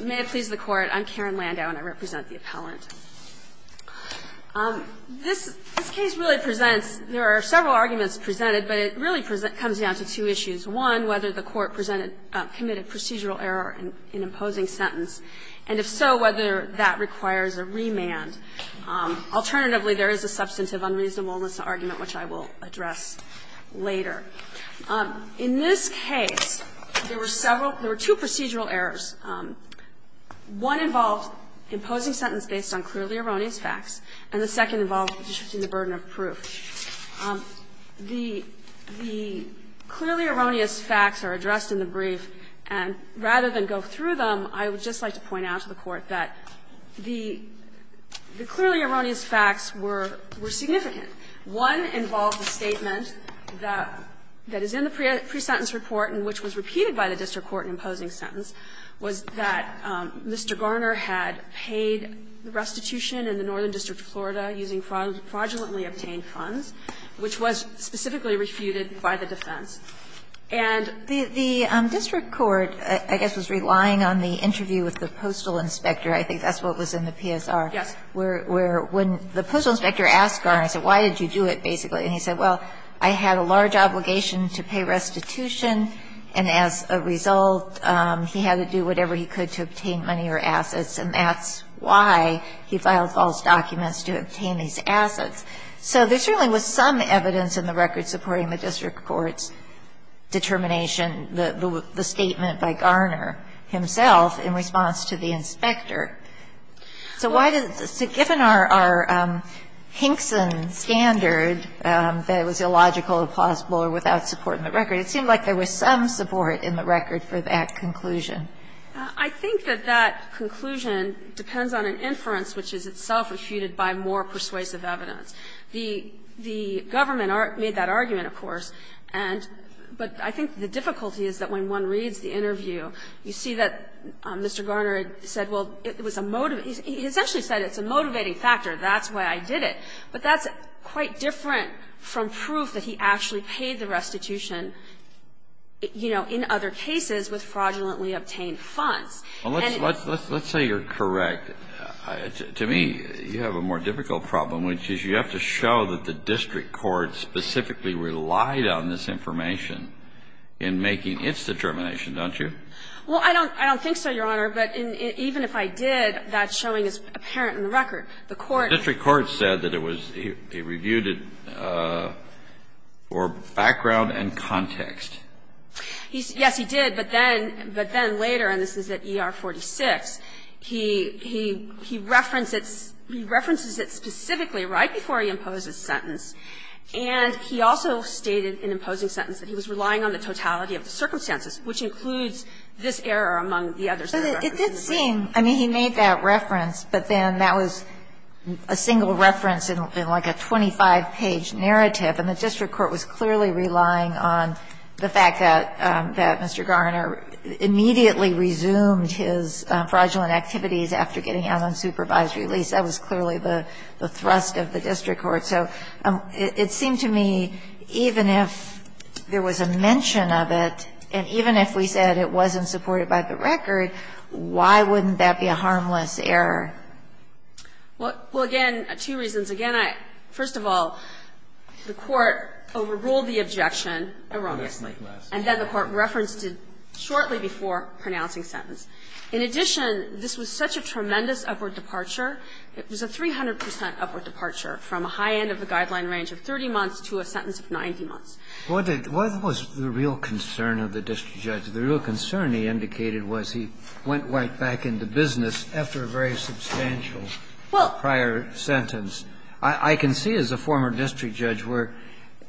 May it please the Court, I'm Karen Landau and I represent the appellant. This case really presents – there are several arguments presented, but it really comes down to two issues. One, whether the Court committed procedural error in imposing sentence, and if so, whether that requires a remand. Alternatively, there is a substantive unreasonableness argument, which I will address later. In this case, there were several – there were two procedural errors. One involved imposing sentence based on clearly erroneous facts, and the second involved restricting the burden of proof. The clearly erroneous facts are addressed in the brief, and rather than go through them, I would just like to point out to the Court that the clearly erroneous facts were significant. One involved a statement that is in the pre-sentence report and which was repeated by the district court in imposing sentence, was that Mr. Garner had paid restitution in the Northern District of Florida using fraudulently obtained funds, which was specifically refuted by the defense. And the district court, I guess, was relying on the interview with the postal inspector. Yes. Where when the postal inspector asked Garner, he said, why did you do it, basically? And he said, well, I had a large obligation to pay restitution, and as a result, he had to do whatever he could to obtain money or assets, and that's why he filed false documents to obtain these assets. So there certainly was some evidence in the record supporting the district court's determination, the statement by Garner himself in response to the inspector. So why did the – so given our Hinkson standard that it was illogical, implausible or without support in the record, it seemed like there was some support in the record for that conclusion. I think that that conclusion depends on an inference which is itself refuted by more persuasive evidence. The government made that argument, of course, and – but I think the difficulty is that when one reads the interview, you see that Mr. Garner said, well, it was a – he essentially said it's a motivating factor, that's why I did it. But that's quite different from proof that he actually paid the restitution, you know, in other cases with fraudulently obtained funds. And – Well, let's – let's say you're correct. To me, you have a more difficult problem, which is you have to show that the district court specifically relied on this information in making its determination, don't you? Well, I don't – I don't think so, Your Honor. But even if I did, that's showing it's apparent in the record. The court – The district court said that it was – it reviewed it for background and context. Yes, he did. But then – but then later, and this is at ER 46, he – he – he referenced it – he references it specifically right before he imposed his sentence. And he also stated in imposing sentence that he was relying on the totality of the circumstances, which includes this error among the others that are referenced in the brief. But it did seem – I mean, he made that reference, but then that was a single reference in like a 25-page narrative, and the district court was clearly relying on the fact that – that Mr. Garner immediately resumed his fraudulent activities after getting out on supervised release. That was clearly the – the thrust of the district court. So it seemed to me, even if there was a mention of it, and even if we said it wasn't supported by the record, why wouldn't that be a harmless error? Well – well, again, two reasons. Again, I – first of all, the court overruled the objection erroneously. And then the court referenced it shortly before pronouncing sentence. In addition, this was such a tremendous upward departure, it was a 300 percent upward departure from a high end of the guideline range of 30 months to a sentence of 90 months. What did – what was the real concern of the district judge? The real concern, he indicated, was he went right back into business after a very substantial prior sentence. Well – I can see as a former district judge where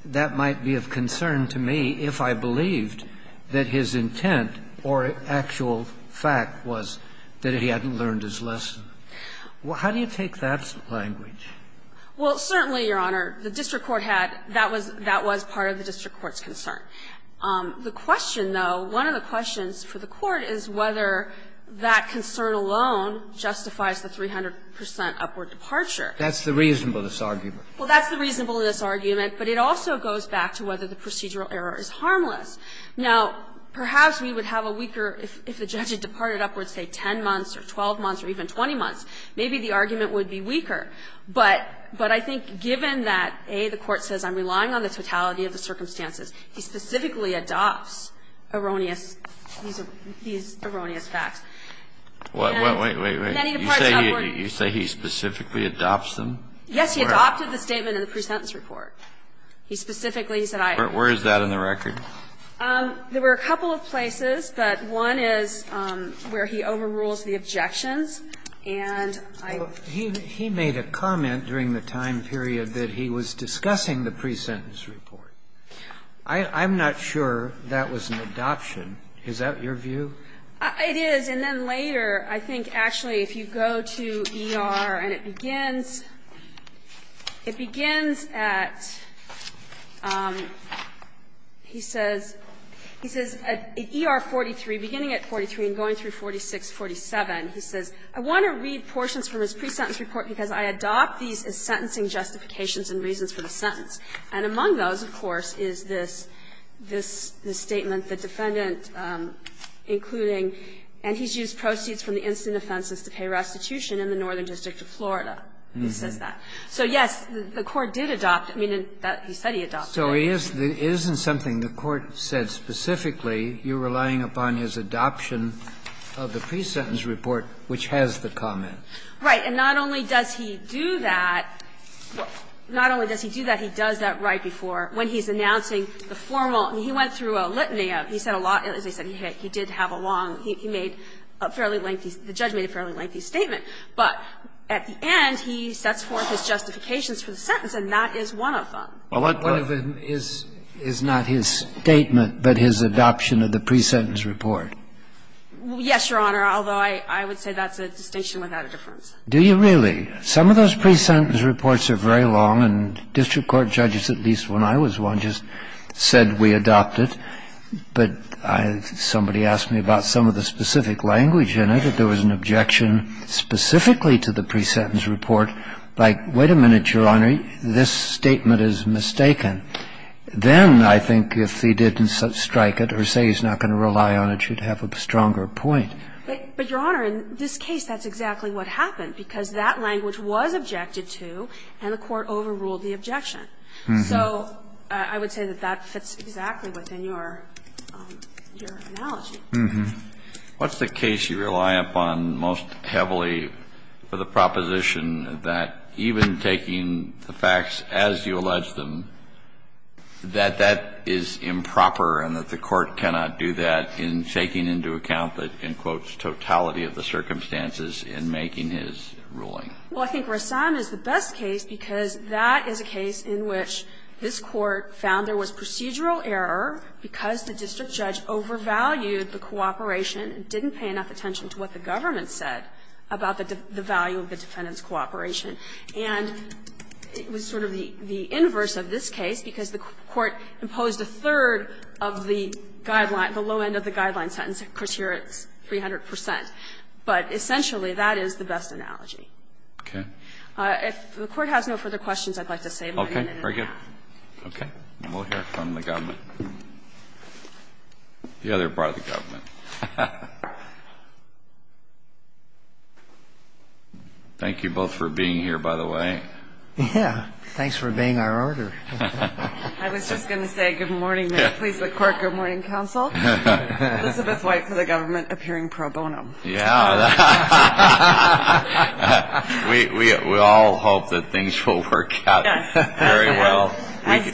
that might be of concern to me if I believed that his intent or actual fact was that he hadn't learned his lesson. How do you take that language? Well, certainly, Your Honor, the district court had – that was – that was part of the district court's concern. The question, though, one of the questions for the court is whether that concern alone justifies the 300 percent upward departure. That's the reasonableness argument. Well, that's the reasonableness argument, but it also goes back to whether the procedural error is harmless. Now, perhaps we would have a weaker – if the judge had departed upwards, say, 10 months or 12 months or even 20 months, maybe the argument would be weaker. But I think given that, A, the court says I'm relying on the totality of the circumstances, he specifically adopts erroneous – these erroneous facts. And then he departs upward. You say he specifically adopts them? Yes, he adopted the statement in the pre-sentence report. He specifically said I – Where is that in the record? There were a couple of places, but one is where he overrules the objections. And I – He made a comment during the time period that he was discussing the pre-sentence report. I'm not sure that was an adoption. Is that your view? It is. And then later, I think actually if you go to ER and it begins – it begins at – he says – he says at ER 43, beginning at 43 and going through 46, 47, he says, I want to read portions from his pre-sentence report because I adopt these as sentencing justifications and reasons for the sentence. And among those, of course, is this – this statement, the defendant including – and he's used proceeds from the incident offenses to pay restitution in the Northern District of Florida. He says that. So, yes, the court did adopt – I mean, he said he adopted it. So it isn't something the court said specifically. You're relying upon his adoption of the pre-sentence report, which has the comment. Right. And not only does he do that – not only does he do that, he does that right before when he's announcing the formal – he went through a litany of – he said a lot – as I said, he did have a long – he made a fairly lengthy – the judge made a fairly lengthy statement. But at the end, he sets forth his justifications for the sentence, and that is one of them. Well, what part of it is not his statement but his adoption of the pre-sentence report? Yes, Your Honor, although I would say that's a distinction without a difference. Do you really? Some of those pre-sentence reports are very long, and district court judges, at least when I was one, just said we adopt it. But somebody asked me about some of the specific language in it, that there was an objection specifically to the pre-sentence report, like, wait a minute, Your Honor, this statement is mistaken. Then I think if he didn't strike it or say he's not going to rely on it, you'd have a stronger point. But, Your Honor, in this case, that's exactly what happened, because that language was objected to, and the court overruled the objection. So I would say that that fits exactly within your analogy. What's the case you rely upon most heavily for the proposition that even taking the facts as you allege them, that that is improper and that the court cannot do that in taking into account the, in quotes, totality of the circumstances in making his ruling? Well, I think Rassam is the best case, because that is a case in which his court found there was procedural error because the district judge overvalued the cooperation and didn't pay enough attention to what the government said about the value of the defendant's cooperation. And it was sort of the inverse of this case, because the court imposed a third of the guideline, the low end of the guideline sentence. Of course, here it's 300 percent, but essentially that is the best analogy. If the Court has no further questions, I'd like to save my minute and ask. Thank you. Okay. We'll hear from the government. The other part of the government. Thank you both for being here, by the way. Yeah. Thanks for obeying our order. I was just going to say, good morning, please, the court, good morning, counsel. Elizabeth White for the government, appearing pro bono. Yeah. We all hope that things will work out very well.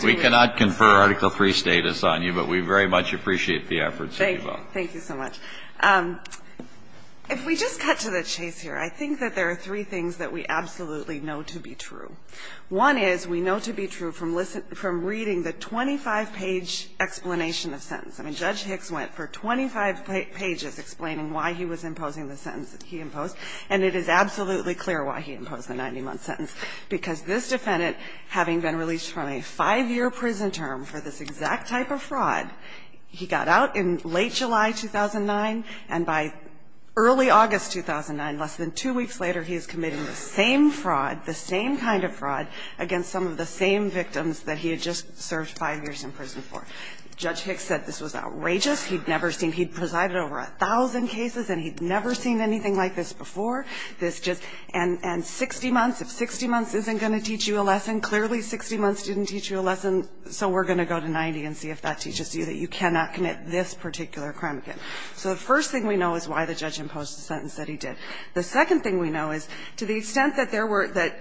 We cannot confer Article III status on you, but we very much appreciate the efforts of you both. Thank you so much. If we just cut to the chase here, I think that there are three things that we absolutely know to be true. One is we know to be true from reading the 25-page explanation of sentence. I mean, Judge Hicks went for 25 pages explaining why he was imposing the sentence that he imposed, and it is absolutely clear why he imposed the 90-month sentence, because this defendant, having been released from a 5-year prison term for this exact type of fraud, he got out in late July 2009, and by early August 2009, less than two weeks later, he is committing the same fraud, the same kind of fraud, against some of the same victims that he had just served 5 years in prison for. Judge Hicks said this was outrageous. He'd never seen he'd presided over a thousand cases, and he'd never seen anything like this before. This just – and 60 months, if 60 months isn't going to teach you a lesson, clearly 60 months didn't teach you a lesson, so we're going to go to 90 and see if that teaches you that you cannot commit this particular crime again. So the first thing we know is why the judge imposed the sentence that he did. The second thing we know is to the extent that there were – that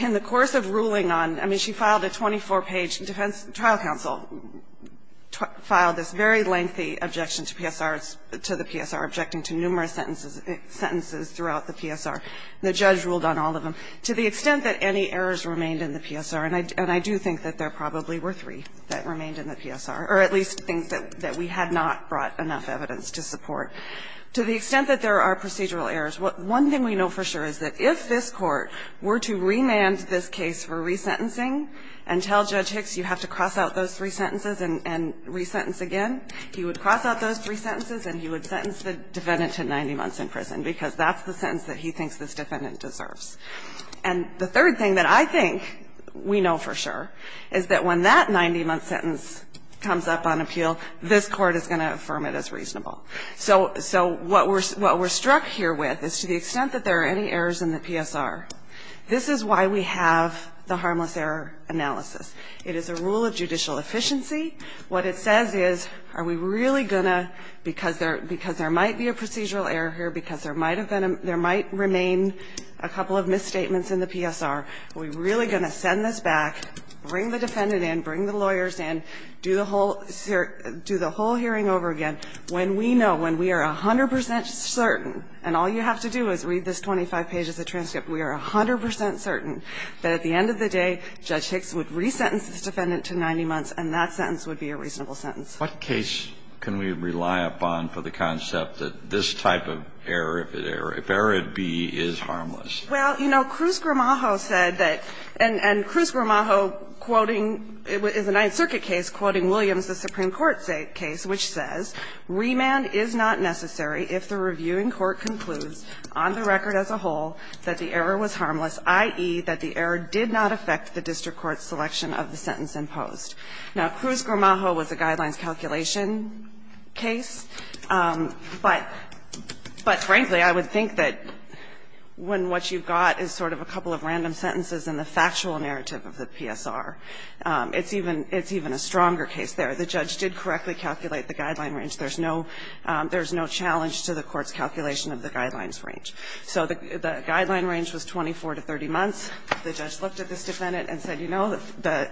in the course of ruling on – I mean, she filed a 24-page defense – trial counsel filed this very lengthy objection to PSRs – to the PSR, objecting to numerous sentences – sentences throughout the PSR. The judge ruled on all of them. To the extent that any errors remained in the PSR – and I do think that there probably were three that remained in the PSR, or at least think that we had not brought enough evidence to support – to the extent that there are procedural errors, one thing we know for sure is that if this Court were to remand this case for resentencing and tell Judge Hicks you have to cross out those three sentences and resentence again, he would cross out those three sentences and he would sentence the defendant to 90 months in prison, because that's the sentence that he thinks this defendant deserves. And the third thing that I think we know for sure is that when that 90-month sentence comes up on appeal, this Court is going to affirm it as reasonable. So what we're struck here with is to the extent that there are any errors in the PSR, this is why we have the harmless error analysis. It is a rule of judicial efficiency. What it says is, are we really going to – because there might be a procedural error here, because there might remain a couple of misstatements in the PSR, are we really going to send this back, bring the defendant in, bring the lawyers in, do the whole hearing over again? When we know, when we are 100 percent certain, and all you have to do is read this 25 pages of transcript, we are 100 percent certain, that at the end of the day, Judge Hicks would resentence this defendant to 90 months and that sentence would be a reasonable sentence. Kennedy. What case can we rely upon for the concept that this type of error, if it – if error B is harmless? Well, you know, Cruz-Gramajo said that – and Cruz-Gramajo quoting – is a Ninth Amendment case. Remand is not necessary if the reviewing court concludes on the record as a whole that the error was harmless, i.e., that the error did not affect the district court's selection of the sentence imposed. Now, Cruz-Gramajo was a guidelines calculation case, but – but frankly, I would think that when what you've got is sort of a couple of random sentences in the factual narrative of the PSR, it's even – it's even a stronger case there. The judge did correctly calculate the guideline range. There's no – there's no challenge to the court's calculation of the guidelines range. So the guideline range was 24 to 30 months. The judge looked at this defendant and said, you know, the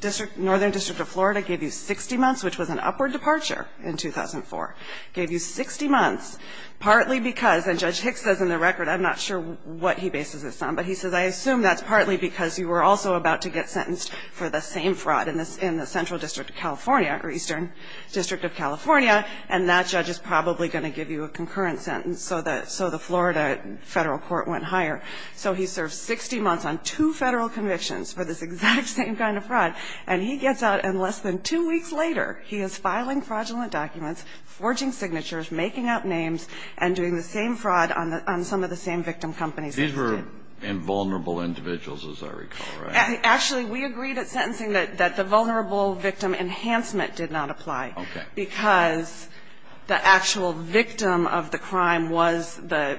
district – northern district of Florida gave you 60 months, which was an upward departure in 2004. Gave you 60 months partly because – and Judge Hicks says in the record, I'm not sure what he bases this on, but he says, I assume that's partly because you were also about to get sentenced for the same fraud in the central district of California or eastern district of California, and that judge is probably going to give you a concurrent sentence. So the Florida Federal Court went higher. So he served 60 months on two Federal convictions for this exact same kind of fraud, and he gets out, and less than two weeks later, he is filing fraudulent documents, forging signatures, making up names, and doing the same fraud on some of the same victim companies. These were invulnerable individuals, as I recall, right? Actually, we agreed at sentencing that the vulnerable victim enhancement did not apply. Okay. Because the actual victim of the crime was the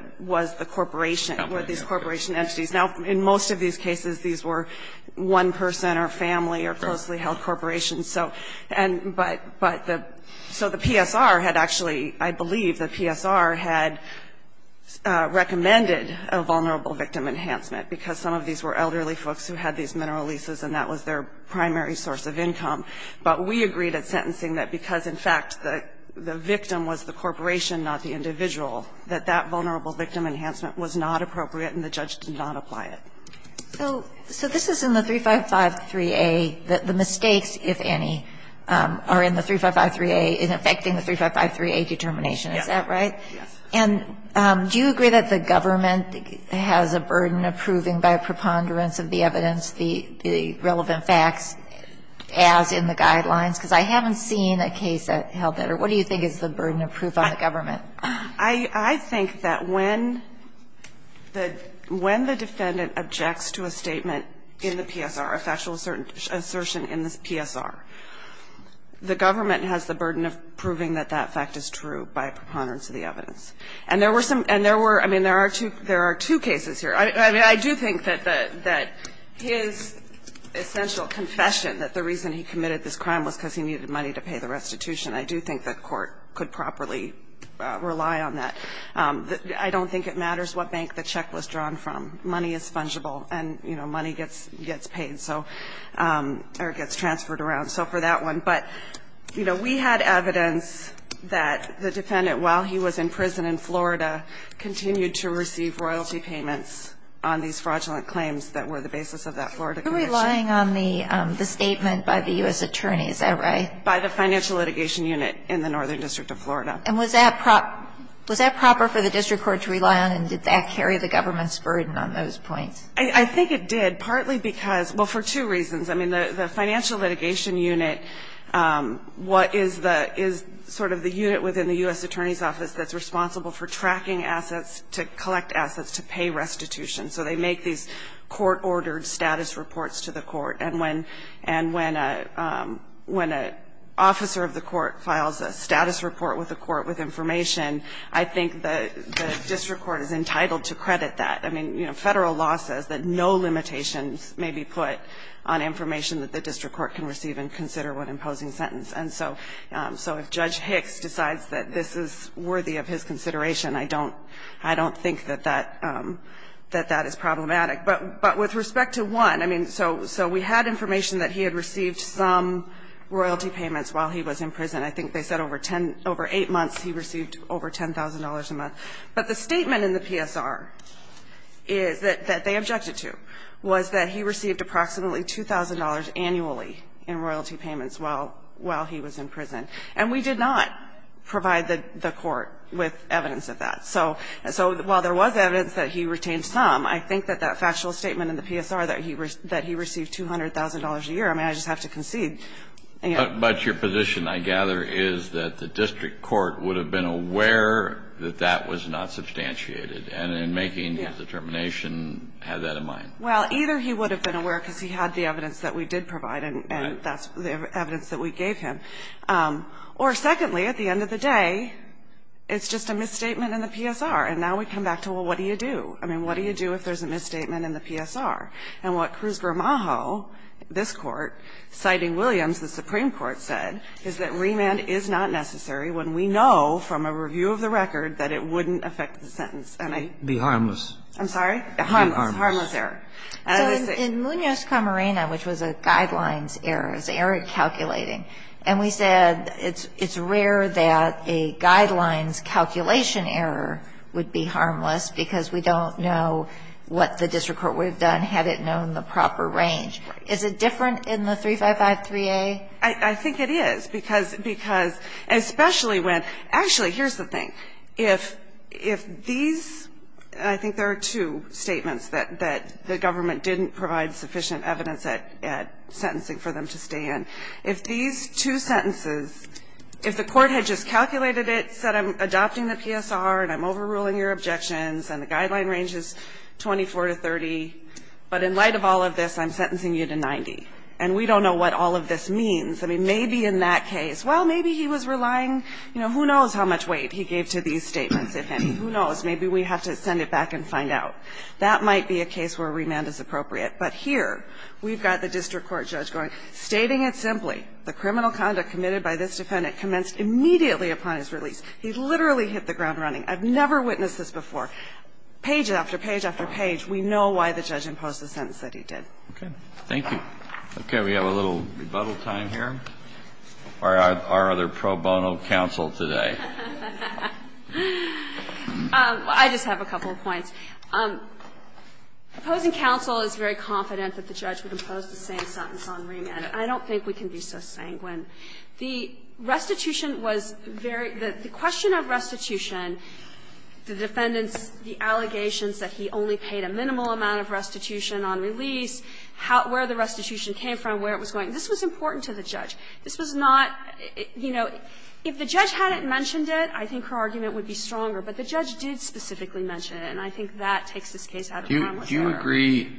corporation, were these corporation entities. Now, in most of these cases, these were one person or family or closely held corporations. So – and – but the – so the PSR had actually – I believe the PSR had recommended a vulnerable victim enhancement, because some of these were elderly folks who had these mineral leases, and that was their primary source of income. But we agreed at sentencing that because, in fact, the victim was the corporation, not the individual, that that vulnerable victim enhancement was not appropriate and the judge did not apply it. So this is in the 3553A, the mistakes, if any, are in the 3553A, in effecting the 3553A determination. Yes. Is that right? And do you agree that the government has a burden of proving by preponderance of the evidence the relevant facts as in the guidelines? Because I haven't seen a case that held that. What do you think is the burden of proof on the government? I think that when the defendant objects to a statement in the PSR, a factual assertion in the PSR, the government has the burden of proving that that fact is true by preponderance of the evidence. And there were some – and there were – I mean, there are two cases here. I mean, I do think that his essential confession that the reason he committed this crime was because he needed money to pay the restitution. I do think the Court could properly rely on that. I don't think it matters what bank the check was drawn from. Money is fungible, and, you know, money gets paid, so – or gets transferred around. So for that one. But, you know, we had evidence that the defendant, while he was in prison in Florida, continued to receive royalty payments on these fraudulent claims that were the basis of that Florida conviction. You're relying on the statement by the U.S. Attorney. Is that right? By the Financial Litigation Unit in the Northern District of Florida. And was that proper for the district court to rely on, and did that carry the government's burden on those points? I think it did, partly because – well, for two reasons. I mean, the Financial Litigation Unit is sort of the unit within the U.S. Attorney's Office that's responsible for tracking assets to collect assets to pay restitution. So they make these court-ordered status reports to the court. And when an officer of the court files a status report with the court with information, I think the district court is entitled to credit that. I mean, you know, Federal law says that no limitations may be put on information that the district court can receive and consider when imposing a sentence. And so if Judge Hicks decides that this is worthy of his consideration, I don't think that that is problematic. But with respect to one, I mean, so we had information that he had received some royalty payments while he was in prison. I think they said over eight months he received over $10,000 a month. But the statement in the PSR that they objected to was that he received approximately $2,000 annually in royalty payments while he was in prison. And we did not provide the court with evidence of that. So while there was evidence that he retained some, I think that that factual statement in the PSR that he received $200,000 a year, I mean, I just have to concede. But your position, I gather, is that the district court would have been aware that that was not substantiated and in making his determination had that in mind. Well, either he would have been aware because he had the evidence that we did provide and that's the evidence that we gave him. Or secondly, at the end of the day, it's just a misstatement in the PSR. And now we come back to, well, what do you do? I mean, what do you do if there's a misstatement in the PSR? And what Cruz-Gramajo, this Court, citing Williams, the Supreme Court, said, is that remand is not necessary when we know from a review of the record that it wouldn't affect the sentence. Be harmless. I'm sorry? Harmless. Harmless error. So in Munoz-Camarena, which was a guidelines error, it was error calculating, and we said it's rare that a guidelines calculation error would be harmless because we don't know what the district court would have done had it known the proper range. Is it different in the 355-3A? I think it is, because especially when – actually, here's the thing. If these – I think there are two statements that the government didn't provide sufficient evidence at sentencing for them to stay in. If these two sentences, if the Court had just calculated it, said I'm adopting the PSR and I'm overruling your objections and the guideline range is 24 to 30, but in light of all of this, I'm sentencing you to 90, and we don't know what all of this means. I mean, maybe in that case, well, maybe he was relying – you know, who knows how much weight he gave to these statements, if any? Who knows? Maybe we have to send it back and find out. That might be a case where remand is appropriate. But here, we've got the district court judge going, stating it simply, the criminal conduct committed by this defendant commenced immediately upon his release. He literally hit the ground running. I've never witnessed this before. Page after page after page, we know why the judge imposed the sentence that he did. Okay. Thank you. Okay. We have a little rebuttal time here. Or are there pro bono counsel today? I just have a couple of points. Opposing counsel is very confident that the judge would impose the same sentence on remand, and I don't think we can be so sanguine. The restitution was very – the question of restitution, the defendant's allegations that he only paid a minimal amount of restitution on release, how – where the restitution came from, where it was going, this was important to the judge. This was not – you know, if the judge hadn't mentioned it, I think her argument would be stronger. But the judge did specifically mention it, and I think that takes this case out of common sense. I agree.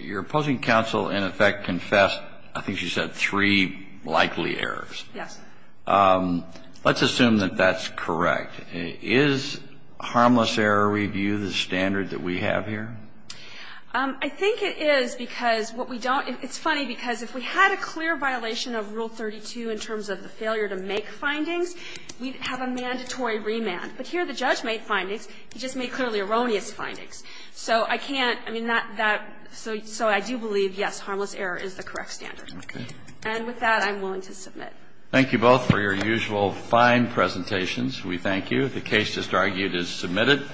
Your opposing counsel, in effect, confessed, I think she said, three likely errors. Yes. Let's assume that that's correct. Is harmless error review the standard that we have here? I think it is, because what we don't – it's funny, because if we had a clear violation of Rule 32 in terms of the failure to make findings, we'd have a mandatory remand. But here the judge made findings. He just made clearly erroneous findings. So I can't – I mean, that – so I do believe, yes, harmless error is the correct standard. Okay. And with that, I'm willing to submit. Thank you both for your usual fine presentations. We thank you. The case just argued is submitted.